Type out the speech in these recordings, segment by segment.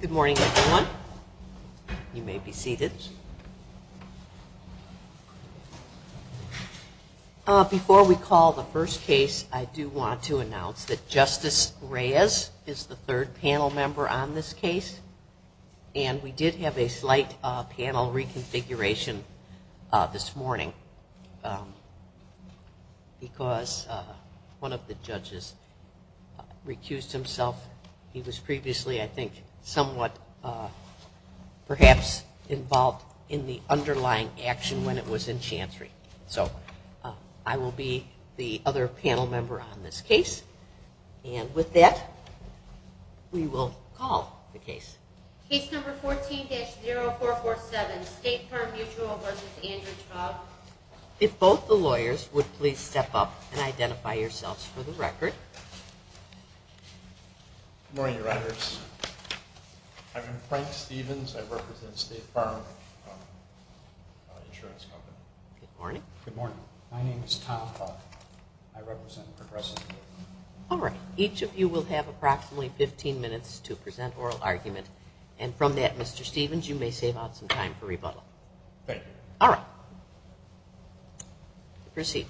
Good morning, everyone. You may be seated. Before we call the first case, I do want to announce that Justice Reyes is the third panel member on this case, and we did have a slight panel reconfiguration this morning because one of the judges recused himself. He was previously, I think, somewhat perhaps involved in the underlying action when it was in Chancery. So I will be the other panel member on this case. And with that, we will call the case. Case number 14-0447, State Farm Mutual v. Andrew Traub. If both the lawyers would please step up and identify yourselves for the record. Good morning, Riders. I'm Frank Stevens. I represent State Farm Insurance Company. Good morning. Good morning. My name is Tom Faulk. I represent Progressive Mutual. All right. Each of you will have approximately 15 minutes to present oral argument. And from that, Mr. Stevens, you may save out some time for rebuttal. Thank you. All right. Proceed.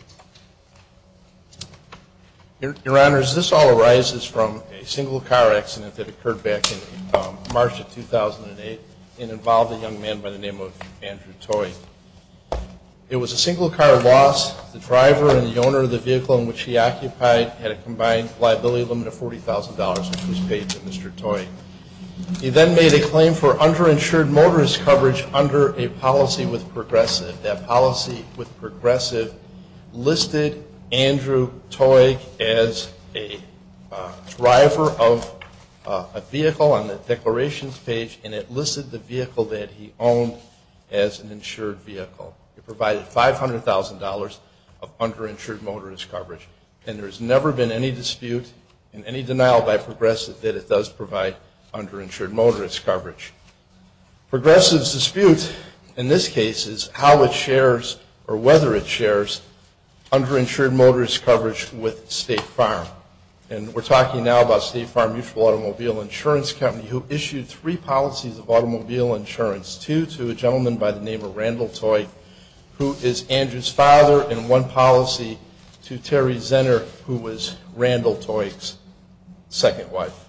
Your Honors, this all arises from a single-car accident that occurred back in March of 2008. It involved a young man by the name of Andrew Toy. It was a single-car loss. The driver and the owner of the vehicle in which he occupied had a combined liability limit of $40,000, which was paid to Mr. Toy. He then made a claim for underinsured motorist coverage under a policy with Progressive. That policy with Progressive was a liability limit of $40,000. It listed Andrew Toy as a driver of a vehicle on the declarations page and it listed the vehicle that he owned as an insured vehicle. It provided $500,000 of underinsured motorist coverage. And there has never been any dispute and any denial by Progressive that it does provide underinsured motorist coverage. Progressive's dispute in this case is how it shares or whether it shares underinsured motorist coverage with State Farm. And we're talking now about State Farm Mutual Automobile Insurance Company, who issued three policies of automobile insurance, two to a gentleman by the name of Randall Toy, who is Andrew's father, and one policy to Terry Zenner, who was Randall Toy's second wife.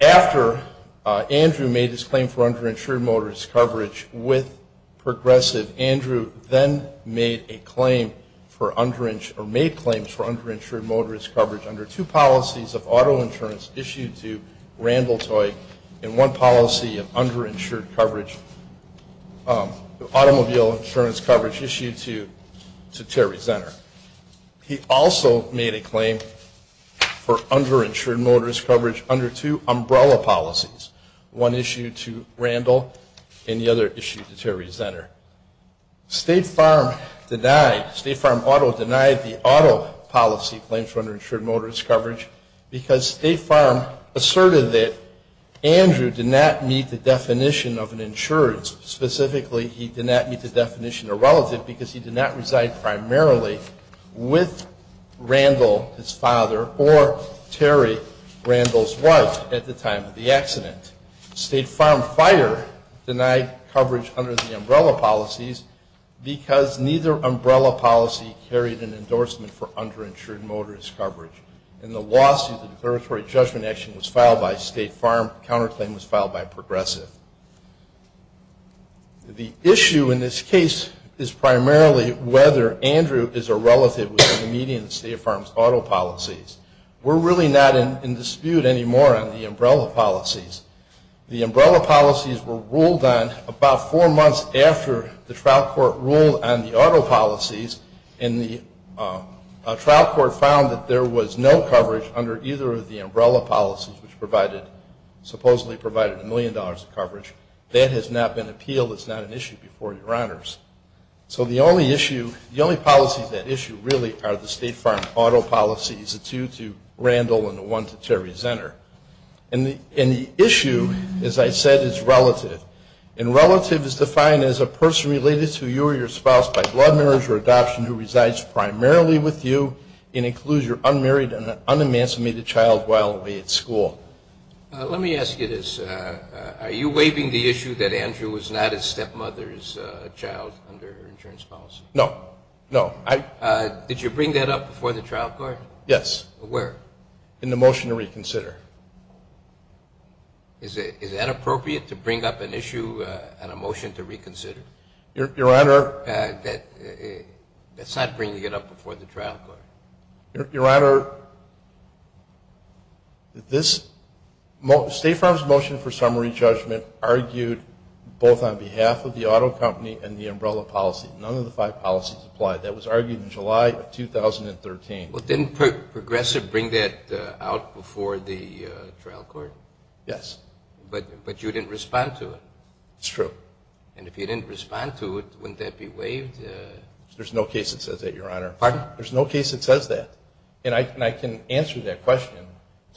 After Andrew made his claim for underinsured motorist coverage with Progressive, Andrew then made claims for underinsured motorist coverage under two policies of auto insurance issued to Randall Toy and one policy of automobile insurance coverage issued to Terry Zenner. He also made a claim for underinsured motorist coverage under two umbrella policies, one issued to Randall and the other issued to Terry Zenner. State Farm denied, State Farm auto denied the auto policy claims for underinsured motorist coverage because State Farm asserted that Andrew did not meet the definition of an insured. Specifically, he did not meet the definition of a relative because he did not reside primarily in an insured vehicle. with Randall, his father, or Terry, Randall's wife, at the time of the accident. State Farm Fire denied coverage under the umbrella policies because neither umbrella policy carried an endorsement for underinsured motorist coverage. In the lawsuit, the declaratory judgment action was filed by State Farm, the counterclaim was filed by Progressive. The issue in this case is primarily whether Andrew is a relative within the median of State Farm's auto policies. We're really not in dispute anymore on the umbrella policies. The umbrella policies were ruled on about four months after the trial court ruled on the auto policies and the trial court found that there was no coverage under either of the umbrella policies which supposedly provided a million dollars of coverage. That has not been appealed. It's not an issue before your honors. So the only issue, the only policies at issue really are the State Farm auto policies, the two to Randall and the one to Terry Zenner. And the issue, as I said, is relative. And relative is defined as a person related to you or your spouse by blood marriage or adoption who resides primarily with you and includes your unmarried and unemancipated child while away at school. Let me ask you this. Are you waiving the issue that Andrew is not a stepmother's child under insurance policy? No. No. Did you bring that up before the trial court? Yes. Where? In the motion to reconsider. Is it inappropriate to bring up an issue in a motion to reconsider? Your Honor. That's not bringing it up before the trial court. Your Honor, this State Farm's motion for summary judgment argued both on behalf of the auto company and the umbrella policy. None of the five policies applied. That was argued in July of 2013. Well, didn't Progressive bring that out before the trial court? Yes. But you didn't respond to it. It's true. And if you didn't respond to it, wouldn't that be waived? There's no case that says that, Your Honor. Pardon? There's no case that says that. And I can answer that question.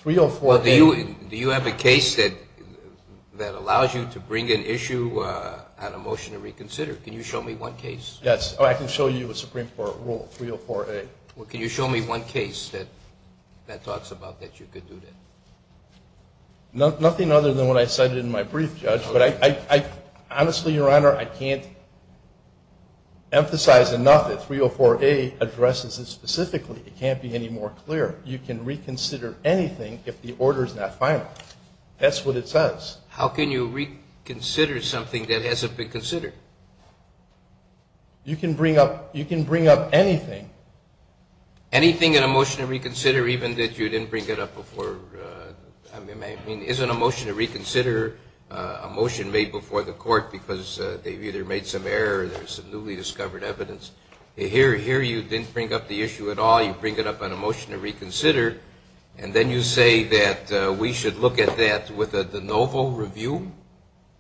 304A. Well, do you have a case that allows you to bring an issue on a motion to reconsider? Can you show me one case? Yes. Oh, I can show you a Supreme Court rule, 304A. Well, can you show me one case that talks about that you could do that? Nothing other than what I cited in my brief, Judge. Honestly, Your Honor, I can't emphasize enough that 304A addresses it specifically. It can't be any more clear. You can reconsider anything if the order is not final. That's what it says. How can you reconsider something that hasn't been considered? You can bring up anything. Anything in a motion to reconsider even that you didn't bring it up before? I mean, isn't a motion to reconsider a motion made before the court because they've either made some error or there's some newly discovered evidence? Here you didn't bring up the issue at all. You bring it up on a motion to reconsider, and then you say that we should look at that with a de novo review?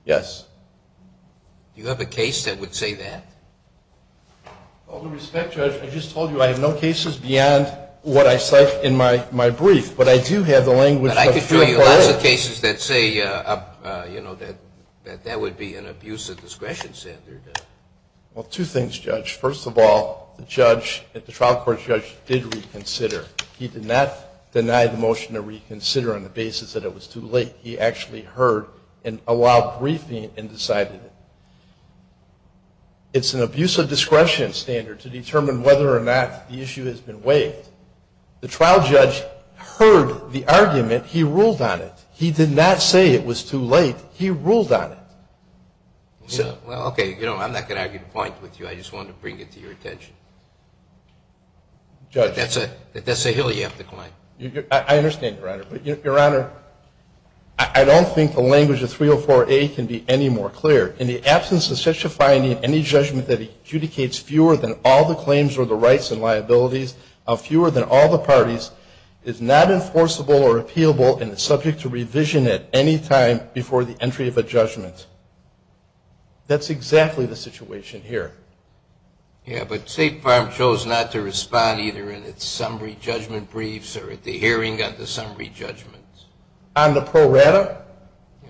Yes. Do you have a case that would say that? With all due respect, Judge, I just told you I have no cases beyond what I cite in my brief, but I do have the language of the Supreme Court. But I could show you lots of cases that say, you know, that that would be an abuse of discretion, Senator. Well, two things, Judge. First of all, the trial court judge did reconsider. He did not deny the motion to reconsider on the basis that it was too late. He actually heard and allowed briefing and decided it. It's an abuse of discretion standard to determine whether or not the issue has been waived. The trial judge heard the argument. He ruled on it. He did not say it was too late. He ruled on it. Well, okay. You know, I'm not going to argue points with you. I just wanted to bring it to your attention. If that's a hill you have to climb. I understand, Your Honor. But, Your Honor, I don't think the language of 304A can be any more clear. In the absence of such a finding, any judgment that adjudicates fewer than all the claims or the rights and liabilities of fewer than all the parties is not enforceable or appealable and is subject to revision at any time before the entry of a judgment. That's exactly the situation here. Yeah, but State Farm chose not to respond either in its summary judgment briefs or at the hearing on the summary judgments. On the pro rata? Yeah.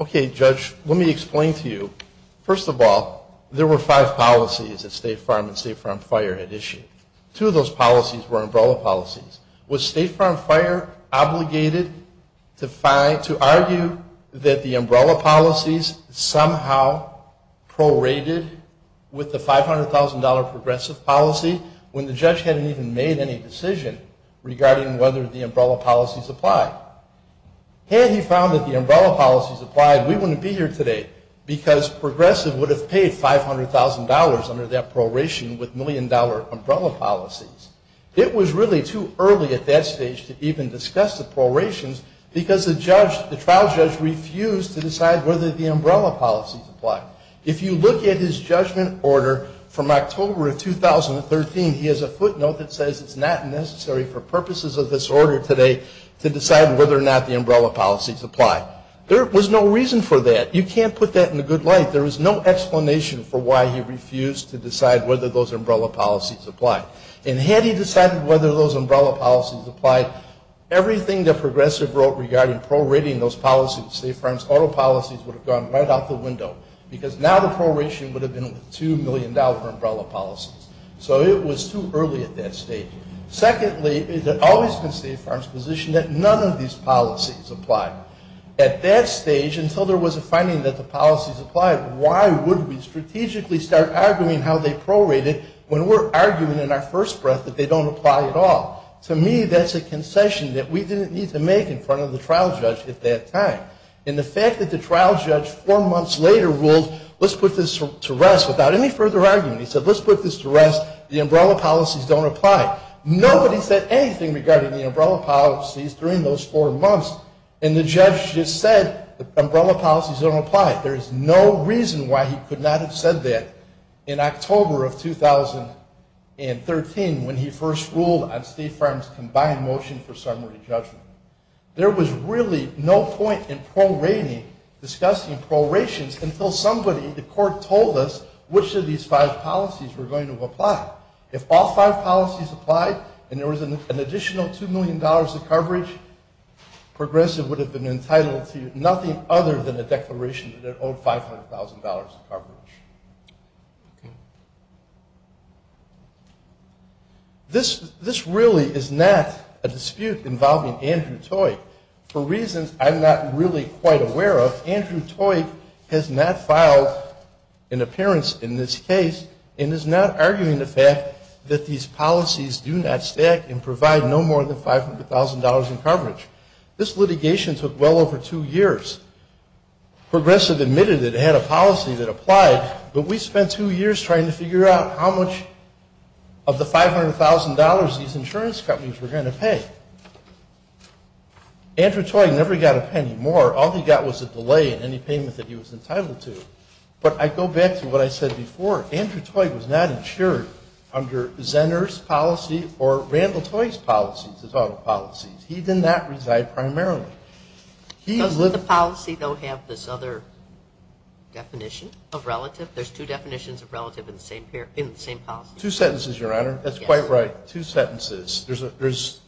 Okay, Judge, let me explain to you. First of all, there were five policies that State Farm and State Farm Fire had issued. Two of those policies were umbrella policies. Was State Farm Fire obligated to argue that the umbrella policies somehow prorated with the $500,000 progressive policy when the judge hadn't even made any decision regarding whether the umbrella policies applied? Had he found that the umbrella policies applied, we wouldn't be here today because progressive would have paid $500,000 under that proration with million-dollar umbrella policies. It was really too early at that stage to even discuss the prorations because the trial judge refused to decide whether the umbrella policies applied. If you look at his judgment order from October of 2013, he has a footnote that says it's not necessary for purposes of this order today to decide whether or not the umbrella policies apply. There was no reason for that. You can't put that in a good light. There was no explanation for why he refused to decide whether those umbrella policies applied. And had he decided whether those umbrella policies applied, everything that progressive wrote regarding prorating those policies, State Farm's auto policies would have gone right out the window because now the proration would have been with $2 million umbrella policies. So it was too early at that stage. Secondly, it had always been State Farm's position that none of these policies applied. At that stage, until there was a finding that the policies applied, why would we strategically start arguing how they prorated when we're arguing in our first breath that they don't apply at all? To me, that's a concession that we didn't need to make in front of the trial judge at that time. And the fact that the trial judge four months later ruled, let's put this to rest without any further argument. He said, let's put this to rest. The umbrella policies don't apply. Nobody said anything regarding the umbrella policies during those four months, and the judge just said the umbrella policies don't apply. There is no reason why he could not have said that in October of 2013 when he first ruled on State Farm's combined motion for summary judgment. There was really no point in prorating, discussing prorations, until somebody, the court, told us which of these five policies were going to apply. If all five policies applied and there was an additional $2 million of coverage, Progressive would have been entitled to nothing other than a declaration that it owed $500,000 of coverage. This really is not a dispute involving Andrew Toik. For reasons I'm not really quite aware of, Andrew Toik has not filed an appearance in this case and is not arguing the fact that these policies do not stack and provide no more than $500,000 in coverage. This litigation took well over two years. Progressive admitted it had a policy that applied, but we spent two years trying to figure out how much of the $500,000 these insurance companies were going to pay. Andrew Toik never got a penny more. All he got was a delay in any payment that he was entitled to. But I go back to what I said before. Andrew Toik was not insured under Zenner's policy or Randall Toik's policies, his auto policies. He did not reside primarily. He lived ñ Does the policy, though, have this other definition of relative? There's two definitions of relative in the same policy. Two sentences, Your Honor. That's quite right. Two sentences. There's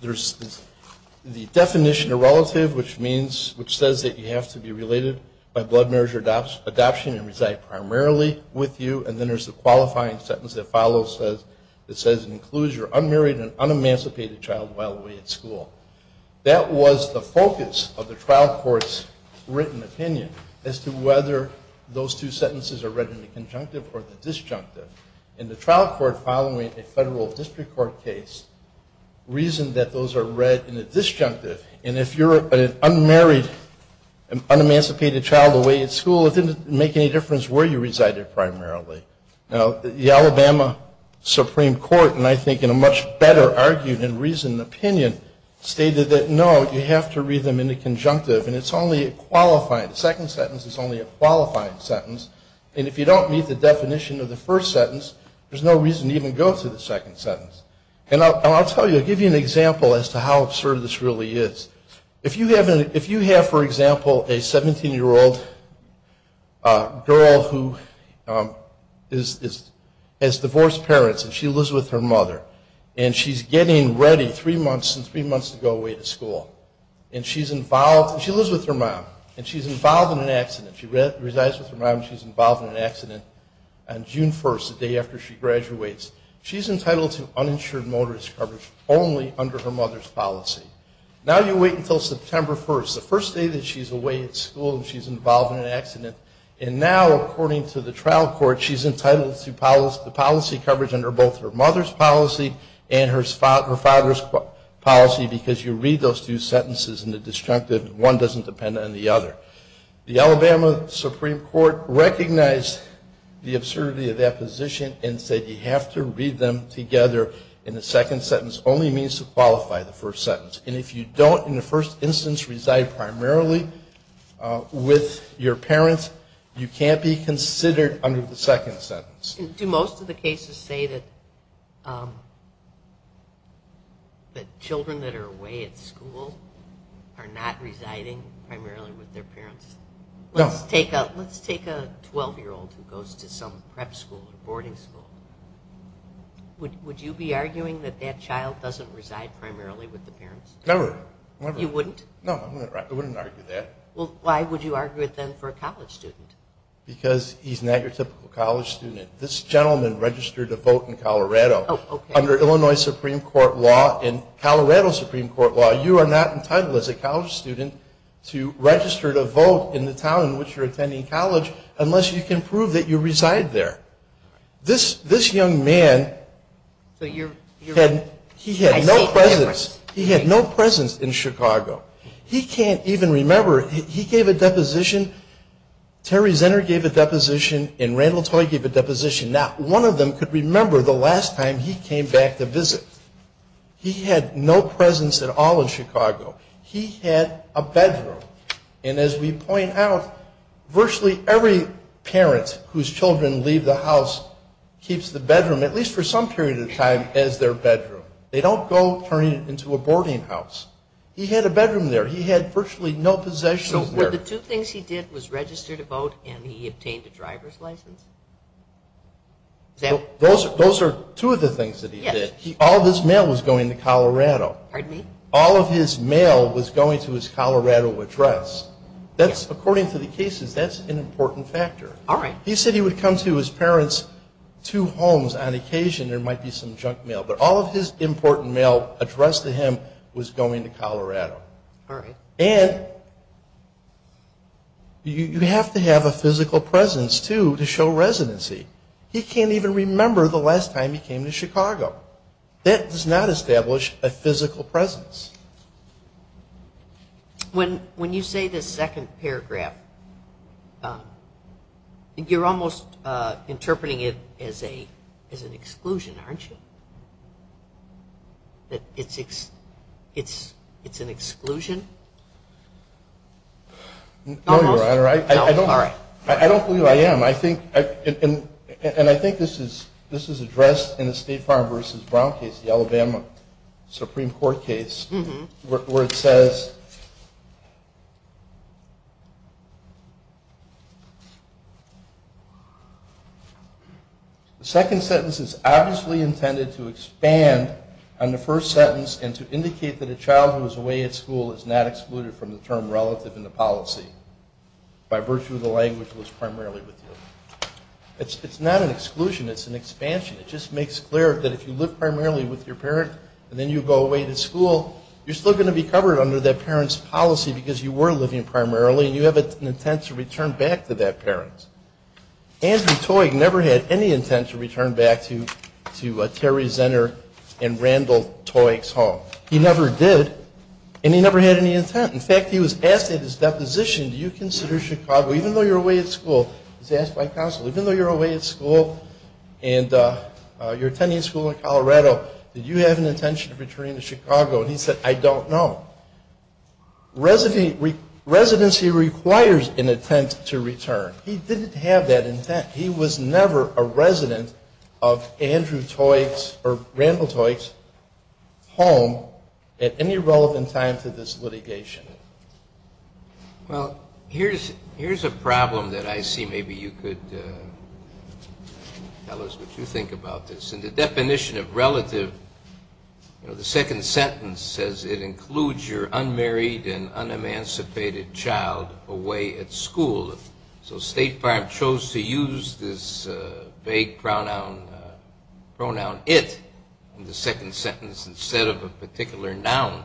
the definition of relative, which means, which says that you have to be related by blood marriage or adoption and reside primarily with you. And then there's the qualifying sentence that follows that says it includes your unmarried and un-emancipated child while away at school. That was the focus of the trial court's written opinion as to whether those two sentences are read in the conjunctive or the disjunctive. And the trial court, following a federal district court case, reasoned that those are read in the disjunctive. And if you're an unmarried, un-emancipated child away at school, it didn't make any difference where you resided primarily. Now, the Alabama Supreme Court, and I think in a much better argued and reasoned opinion, stated that, no, you have to read them in the conjunctive. And it's only a qualifying. The second sentence is only a qualifying sentence. And if you don't meet the definition of the first sentence, there's no reason to even go through the second sentence. And I'll tell you, I'll give you an example as to how absurd this really is. If you have, for example, a 17-year-old girl who has divorced parents and she lives with her mother, and she's getting ready three months and three months to go away to school, and she's involved, and she lives with her mom, and she's involved in an accident. She resides with her mom and she's involved in an accident. And June 1st, the day after she graduates, she's entitled to uninsured motorist coverage only under her mother's policy. Now you wait until September 1st, the first day that she's away at school and she's involved in an accident. And now, according to the trial court, she's entitled to policy coverage under both her mother's policy and her father's policy, because you read those two sentences in the disjunctive and one doesn't depend on the other. The Alabama Supreme Court recognized the absurdity of that position and said you have to read them together in the second sentence. It only means to qualify the first sentence. And if you don't in the first instance reside primarily with your parents, you can't be considered under the second sentence. Do most of the cases say that children that are away at school are not residing primarily with their parents? No. Let's take a 12-year-old who goes to some prep school or boarding school. Would you be arguing that that child doesn't reside primarily with the parents? Never. You wouldn't? No, I wouldn't argue that. Well, why would you argue it then for a college student? Because he's not your typical college student. This gentleman registered to vote in Colorado. Oh, okay. Under Illinois Supreme Court law and Colorado Supreme Court law, you are not entitled as a college student to register to vote in the town in which you're attending college unless you can prove that you reside there. This young man, he had no presence in Chicago. He can't even remember. He gave a deposition. Terry Zenner gave a deposition, and Randall Toy gave a deposition. Now, one of them could remember the last time he came back to visit. He had no presence at all in Chicago. He had a bedroom. And as we point out, virtually every parent whose children leave the house keeps the bedroom, at least for some period of time, as their bedroom. They don't go turning it into a boarding house. He had a bedroom there. He had virtually no possessions there. Were the two things he did was register to vote and he obtained a driver's license? Those are two of the things that he did. Yes. All of his mail was going to Colorado. Pardon me? All of his mail was going to his Colorado address. According to the cases, that's an important factor. All right. He said he would come to his parents' two homes on occasion. There might be some junk mail. But all of his important mail addressed to him was going to Colorado. All right. And you have to have a physical presence, too, to show residency. He can't even remember the last time he came to Chicago. That does not establish a physical presence. When you say this second paragraph, you're almost interpreting it as an exclusion, aren't you? It's an exclusion? No, Your Honor. I don't believe I am. And I think this is addressed in the State Farm v. Brown case, the Alabama Supreme Court case, where it says the second sentence is obviously intended to expand on the first sentence and to indicate that a child who is away at school is not excluded from the term relative in the policy by virtue of the language that was primarily with you. It's not an exclusion. It's an expansion. It just makes clear that if you live primarily with your parent and then you go away to school, you're still going to be covered under that parent's policy because you were living primarily and you have an intent to return back to that parent. Andrew Toig never had any intent to return back to Terry Zenner and Randall Toig's home. He never did, and he never had any intent. In fact, he was asked at his deposition, even though you're away at school, he was asked by counsel, even though you're away at school and you're attending school in Colorado, did you have an intention of returning to Chicago? And he said, I don't know. Residency requires an intent to return. He didn't have that intent. He was never a resident of Andrew Toig's or Randall Toig's home at any relevant time to this litigation. Well, here's a problem that I see. Maybe you could tell us what you think about this. In the definition of relative, you know, the second sentence says it includes your unmarried and unemancipated child away at school. So State Farm chose to use this vague pronoun it in the second sentence instead of a particular noun.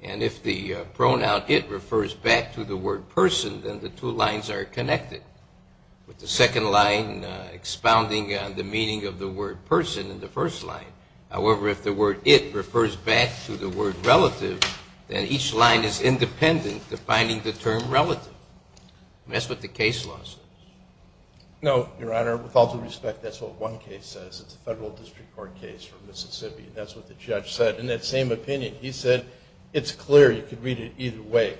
And if the pronoun it refers back to the word person, then the two lines are connected with the second line expounding on the meaning of the word person in the first line. However, if the word it refers back to the word relative, then each line is independent defining the term relative. And that's what the case law says. No, Your Honor. With all due respect, that's what one case says. It's a federal district court case for Mississippi. That's what the judge said. In that same opinion, he said it's clear you could read it either way.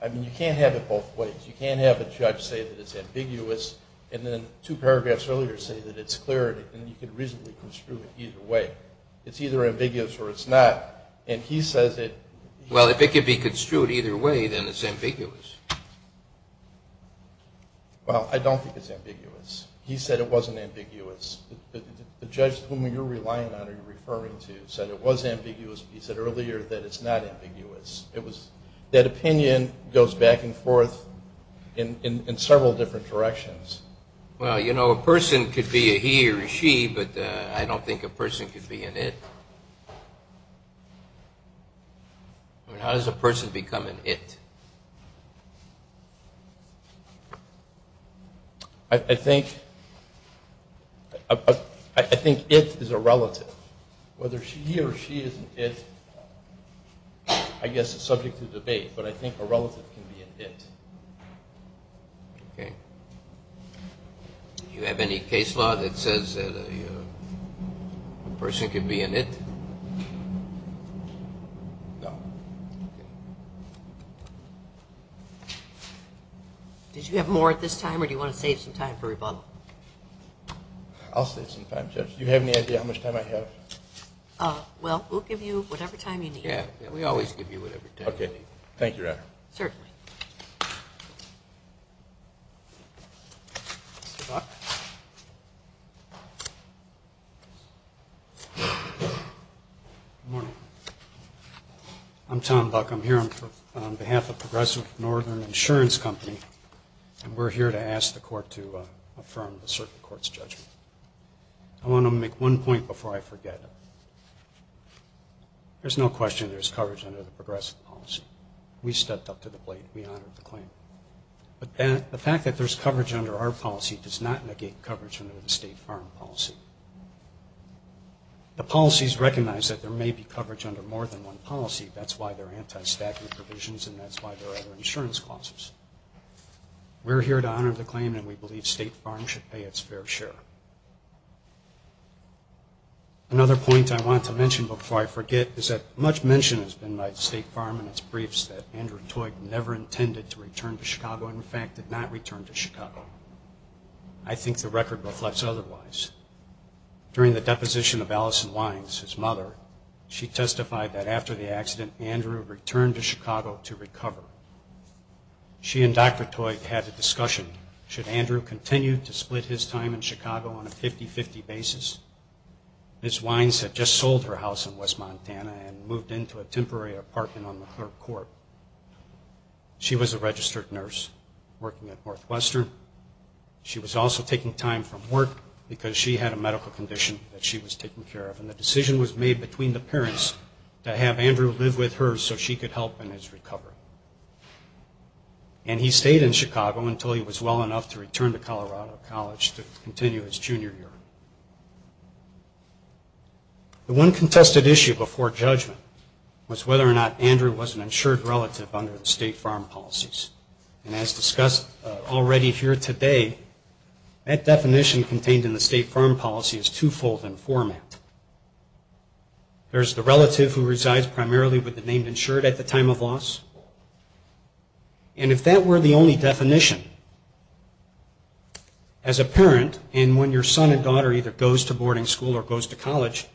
I mean, you can't have it both ways. You can't have a judge say that it's ambiguous and then two paragraphs earlier say that it's clear and you can reasonably construe it either way. It's either ambiguous or it's not. And he says that… Well, if it could be construed either way, then it's ambiguous. Well, I don't think it's ambiguous. He said it wasn't ambiguous. The judge whom you're relying on or you're referring to said it was ambiguous. He said earlier that it's not ambiguous. That opinion goes back and forth in several different directions. Well, you know, a person could be a he or a she, but I don't think a person could be an it. How does a person become an it? I think it is a relative. Whether he or she is an it, I guess it's subject to debate, but I think a relative can be an it. Okay. Do you have any case law that says that a person can be an it? No. Okay. Did you have more at this time or do you want to save some time for rebuttal? I'll save some time, Judge. Do you have any idea how much time I have? Well, we'll give you whatever time you need. Yeah, we always give you whatever time you need. Okay. Thank you, Your Honor. Certainly. Mr. Buck? Good morning. I'm Tom Buck. I'm here on behalf of Progressive Northern Insurance Company, and we're here to ask the Court to affirm a certain court's judgment. I want to make one point before I forget. There's no question there's coverage under the Progressive policy. We stepped up to the plate. We honored the claim. But the fact that there's coverage under our policy does not negate coverage under the State Farm policy. The policies recognize that there may be coverage under more than one policy. That's why there are anti-stacking provisions, and that's why there are other insurance clauses. We're here to honor the claim, and we believe State Farm should pay its fair share. Another point I want to mention before I forget is that much mention has been made by State Farm in its briefs that Andrew Toit never intended to return to Chicago, in fact, did not return to Chicago. I think the record reflects otherwise. She testified that after the accident, Andrew returned to Chicago to recover. She and Dr. Toit had a discussion. Should Andrew continue to split his time in Chicago on a 50-50 basis? Ms. Wines had just sold her house in West Montana and moved into a temporary apartment on the third court. She was a registered nurse working at Northwestern. She was also taking time from work because she had a medical condition that she was taking care of, and the decision was made between the parents to have Andrew live with her so she could help in his recovery. And he stayed in Chicago until he was well enough to return to Colorado College to continue his junior year. The one contested issue before judgment was whether or not Andrew was an insured relative under the State Farm policies, and as discussed already here today, that definition contained in the State Farm policy is twofold in format. There's the relative who resides primarily with the name insured at the time of loss, and if that were the only definition, as a parent, and when your son or daughter either goes to boarding school or goes to college,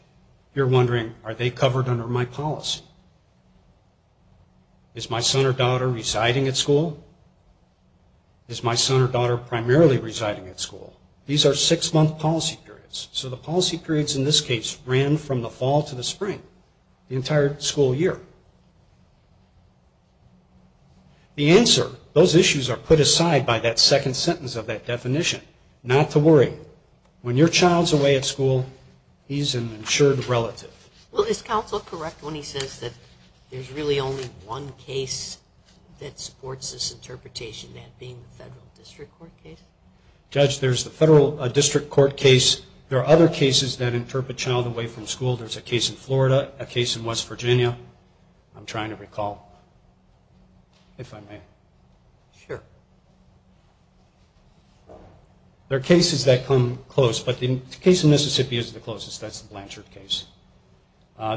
you're wondering, are they covered under my policy? Is my son or daughter residing at school? Is my son or daughter primarily residing at school? These are six-month policy periods, so the policy periods in this case ran from the fall to the spring, the entire school year. The answer, those issues are put aside by that second sentence of that definition, not to worry. When your child's away at school, he's an insured relative. Well, is counsel correct when he says that there's really only one case that supports this interpretation, that being the federal district court case? Judge, there's the federal district court case. There are other cases that interpret child away from school. There's a case in Florida, a case in West Virginia. I'm trying to recall, if I may. Sure. Sure. There are cases that come close, but the case in Mississippi is the closest. That's the Blanchard case.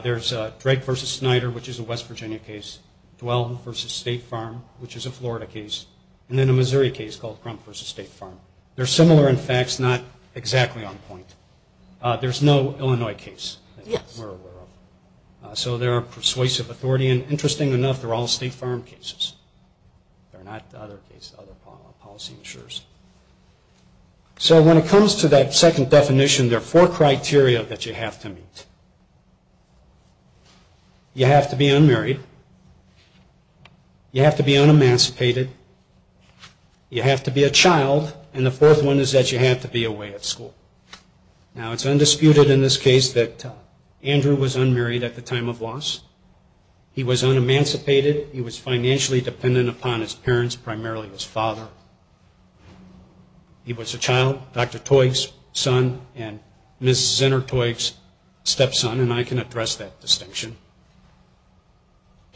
There's Drake v. Snyder, which is a West Virginia case, Dwell v. State Farm, which is a Florida case, and then a Missouri case called Crump v. State Farm. They're similar in facts, not exactly on point. There's no Illinois case that we're aware of. So they're a persuasive authority, and interesting enough, they're all State Farm cases. They're not the other policy insurers. So when it comes to that second definition, there are four criteria that you have to meet. You have to be unmarried. You have to be unemancipated. You have to be a child. And the fourth one is that you have to be away at school. Now, it's undisputed in this case that Andrew was unmarried at the time of loss. He was unemancipated. He was financially dependent upon his parents, primarily his father. He was a child, Dr. Toig's son and Ms. Zinner Toig's stepson, and I can address that distinction.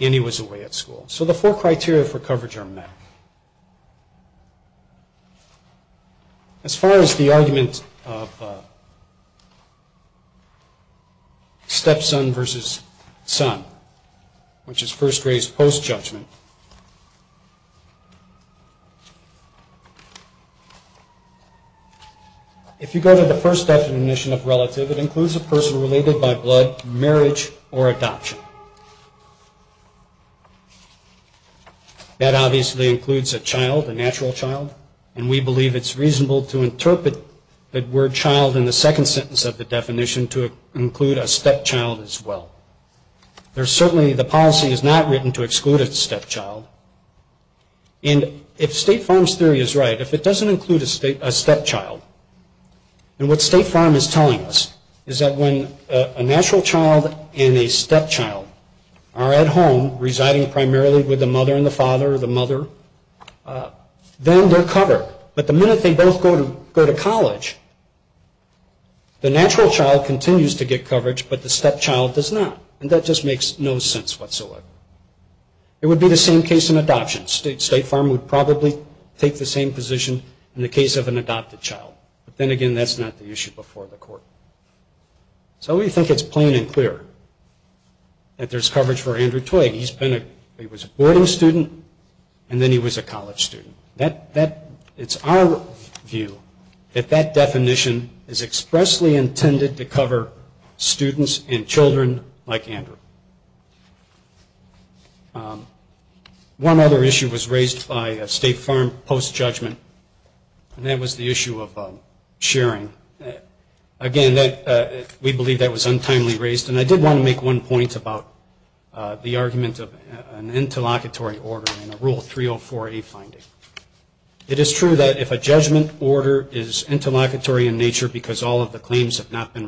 And he was away at school. So the four criteria for coverage are met. As far as the argument of stepson versus son, which is first grace post-judgment, if you go to the first definition of relative, it includes a person related by blood, marriage, or adoption. That obviously includes a child, a natural child. And we believe it's reasonable to interpret the word child in the second sentence of the definition to include a stepchild as well. Certainly the policy is not written to exclude a stepchild. And if State Farm's theory is right, if it doesn't include a stepchild, And what State Farm is telling us is that when a natural child and a stepchild are at home, residing primarily with the mother and the father or the mother, then they're covered. But the minute they both go to college, the natural child continues to get coverage, but the stepchild does not. And that just makes no sense whatsoever. It would be the same case in adoption. State Farm would probably take the same position in the case of an adopted child. But then again, that's not the issue before the court. So we think it's plain and clear that there's coverage for Andrew Twigg. He was a boarding student, and then he was a college student. It's our view that that definition is expressly intended to cover students and children like Andrew. One other issue was raised by State Farm post-judgment, and that was the issue of sharing. Again, we believe that was untimely raised, and I did want to make one point about the argument of an interlocutory order in a Rule 304A finding. It is true that if a judgment order is interlocutory in nature because all of the claims have not been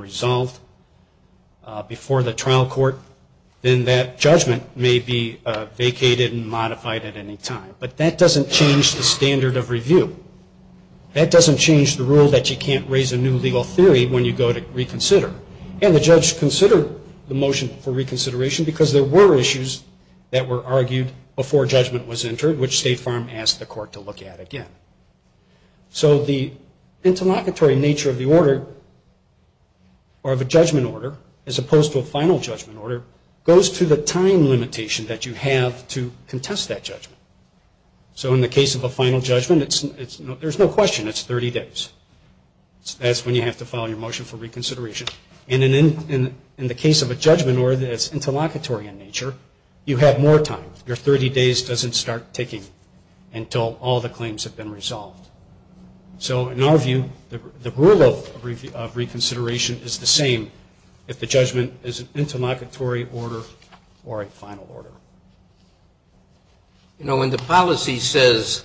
then that judgment may be vacated and modified at any time. But that doesn't change the standard of review. That doesn't change the rule that you can't raise a new legal theory when you go to reconsider. And the judge considered the motion for reconsideration because there were issues that were argued before judgment was entered, which State Farm asked the court to look at again. So the interlocutory nature of the order, or of a judgment order, as opposed to a final judgment order, goes to the time limitation that you have to contest that judgment. So in the case of a final judgment, there's no question it's 30 days. That's when you have to file your motion for reconsideration. And in the case of a judgment order that's interlocutory in nature, you have more time. Your 30 days doesn't start ticking until all the claims have been resolved. So in our view, the rule of reconsideration is the same if the judgment is an interlocutory order or a final order. You know, when the policy says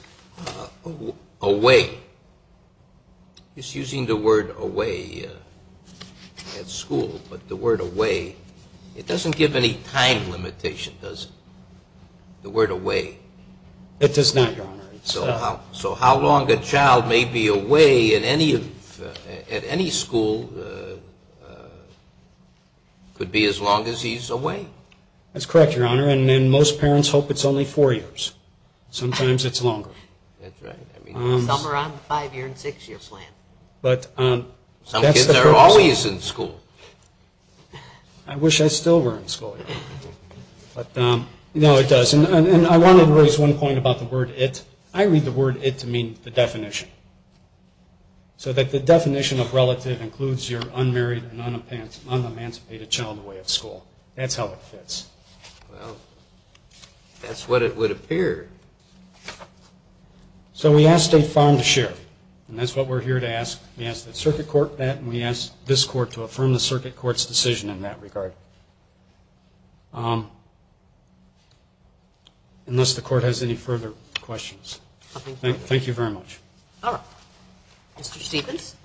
away, it's using the word away at school, but the word away, it doesn't give any time limitation, does it? The word away. It does not, Your Honor. So how long a child may be away at any school could be as long as he's away. That's correct, Your Honor, and most parents hope it's only four years. Sometimes it's longer. That's right. Some are on the five-year and six-year plan. Some kids are always in school. I wish I still were in school. No, it does. And I wanted to raise one point about the word it. I read the word it to mean the definition, so that the definition of relative includes your unmarried and unemancipated child away at school. That's how it fits. That's what it would appear. So we asked State Farm to share, and that's what we're here to ask. We asked the circuit court that, and we asked this court to affirm the circuit court's decision in that regard. Unless the court has any further questions. Thank you very much. All right. Mr. Stephens.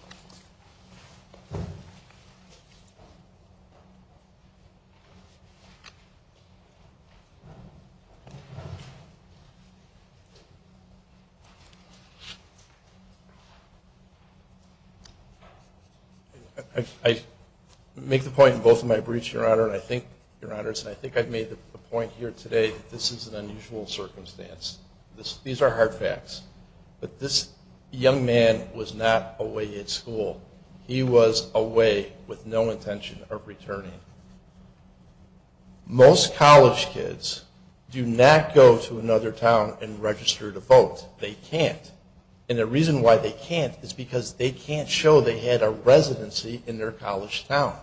I make the point in both of my briefs, Your Honor, and I think, Your Honors, and I think I've made the point here today that this is an unusual circumstance. These are hard facts. But this young man was not away at school. He was away with no intention of returning. Most college kids do not go to another town and register to vote. They can't. And the reason why they can't is because they can't show they had a residency in their college town.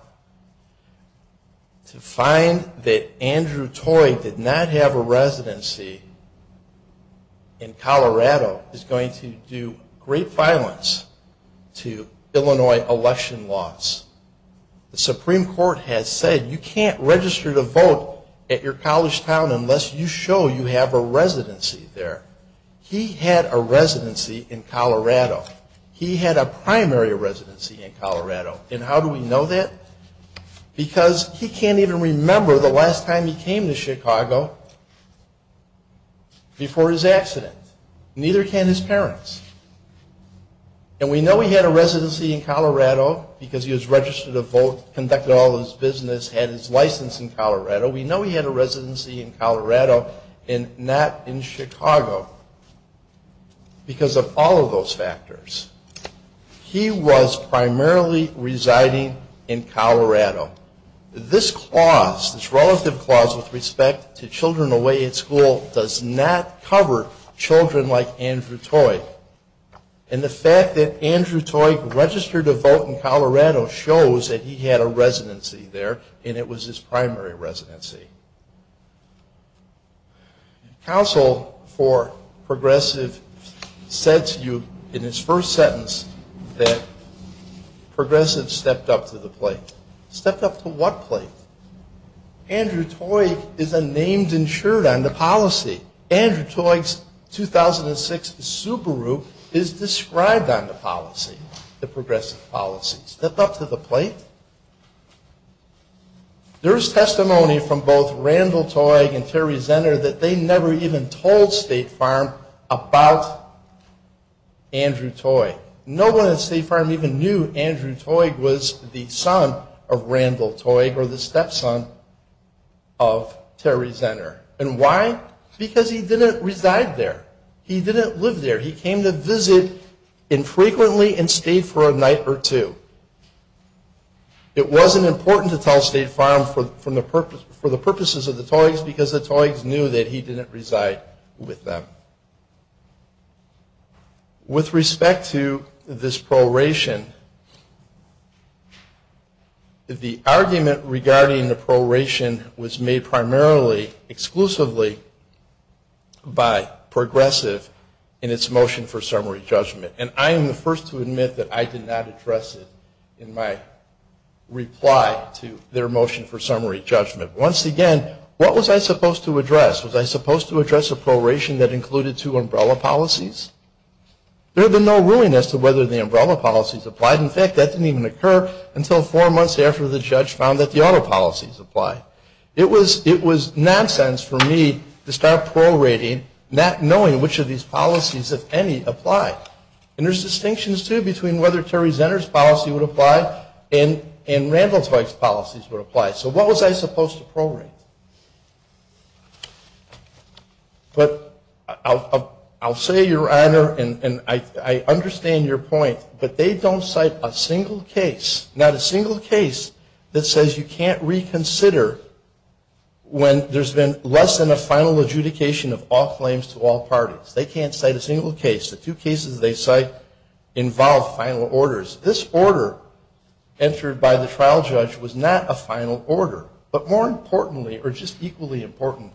To find that Andrew Toy did not have a residency in Colorado is going to do great violence to Illinois election laws. The Supreme Court has said you can't register to vote at your college town unless you show you have a residency there. He had a residency in Colorado. He had a primary residency in Colorado. And how do we know that? Because he can't even remember the last time he came to Chicago before his accident. Neither can his parents. And we know he had a residency in Colorado because he was registered to vote, conducted all his business, had his license in Colorado. We know he had a residency in Colorado and not in Chicago because of all of those factors. This clause, this relative clause with respect to children away at school does not cover children like Andrew Toy. And the fact that Andrew Toy registered to vote in Colorado shows that he had a residency there and it was his primary residency. Counsel for Progressive said to you in his first sentence that Progressive stepped up to the plate. Stepped up to what plate? Andrew Toy is a named insured on the policy. Andrew Toy's 2006 Subaru is described on the policy, the Progressive policy. Stepped up to the plate? There is testimony from both Randall Toy and Terry Zenner that they never even told State Farm about Andrew Toy. No one at State Farm even knew Andrew Toy was the son of Randall Toy or the stepson of Terry Zenner. And why? Because he didn't reside there. He didn't live there. He came to visit infrequently and stayed for a night or two. It wasn't important to tell State Farm for the purposes of the Toy's because the Toy's knew that he didn't reside with them. With respect to this pro-ration, the argument regarding the pro-ration was made primarily exclusively by Progressive in its motion for summary judgment. And I am the first to admit that I did not address it in my reply to their motion for summary judgment. Once again, what was I supposed to address? Was I supposed to address a pro-ration that included two umbrella policies? There had been no ruling as to whether the umbrella policies applied. In fact, that didn't even occur until four months after the judge found that the auto policies applied. It was nonsense for me to start pro-rating not knowing which of these policies, if any, applied. And there's distinctions, too, between whether Terry Zenner's policy would apply and Randall Toy's policies would apply. So what was I supposed to pro-rate? But I'll say, Your Honor, and I understand your point, but they don't cite a single case, not a single case that says you can't reconsider when there's been less than a final adjudication of all claims to all parties. They can't cite a single case. The two cases they cite involve final orders. This order entered by the trial judge was not a final order. But more importantly, or just equally important,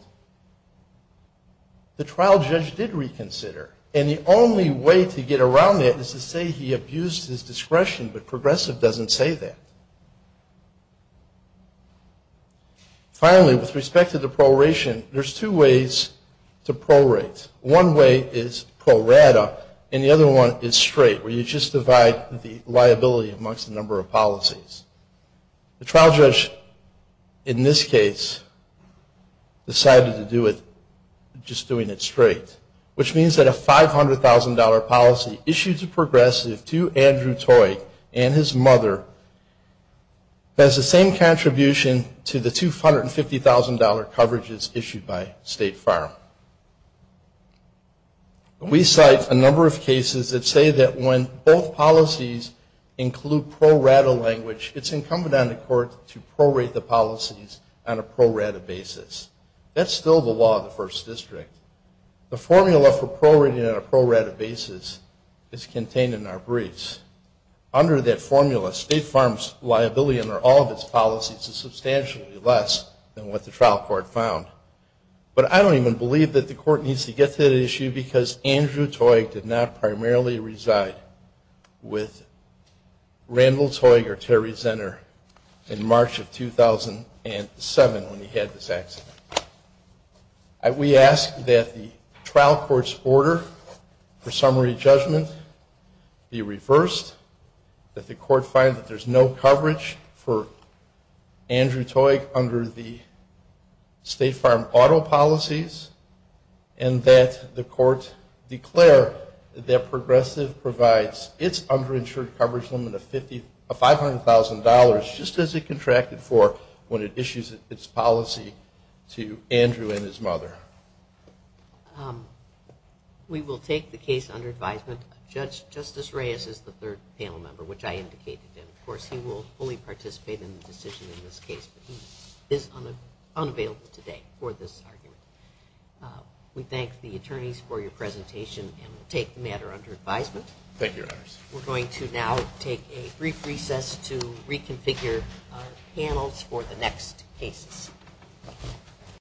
the trial judge did reconsider. And the only way to get around that is to say he abused his discretion, but Progressive doesn't say that. Finally, with respect to the pro-ration, there's two ways to pro-rate. One way is pro-rata, and the other one is straight, where you just divide the liability amongst a number of policies. The trial judge, in this case, decided to do it just doing it straight, which means that a $500,000 policy issued to Progressive, to Andrew Toy and his mother, has the same contribution to the $250,000 coverages issued by State Farm. We cite a number of cases that say that when both policies include pro-rata language, it's incumbent on the court to pro-rate the policies on a pro-rata basis. That's still the law of the First District. The formula for pro-rating on a pro-rata basis is contained in our briefs. Under that formula, State Farm's liability under all of its policies is substantially less than what the trial court found. But I don't even believe that the court needs to get to that issue because Andrew Toy did not primarily reside with Randall Toy or Terry Zenner in March of 2007 when he had this accident. We ask that the trial court's order for summary judgment be reversed, that the court find that there's no coverage for Andrew Toy under the State Farm auto policies, and that the court declare that Progressive provides its underinsured coverage limit of $500,000, just as it contracted for when it issues its policy to Andrew and his mother. We will take the case under advisement. Judge Justice Reyes is the third panel member, which I indicated, and of course he will fully participate in the decision in this case. But he is unavailable today for this argument. We thank the attorneys for your presentation and will take the matter under advisement. Thank you, Your Honors. We're going to now take a brief recess to reconfigure our panels for the next cases.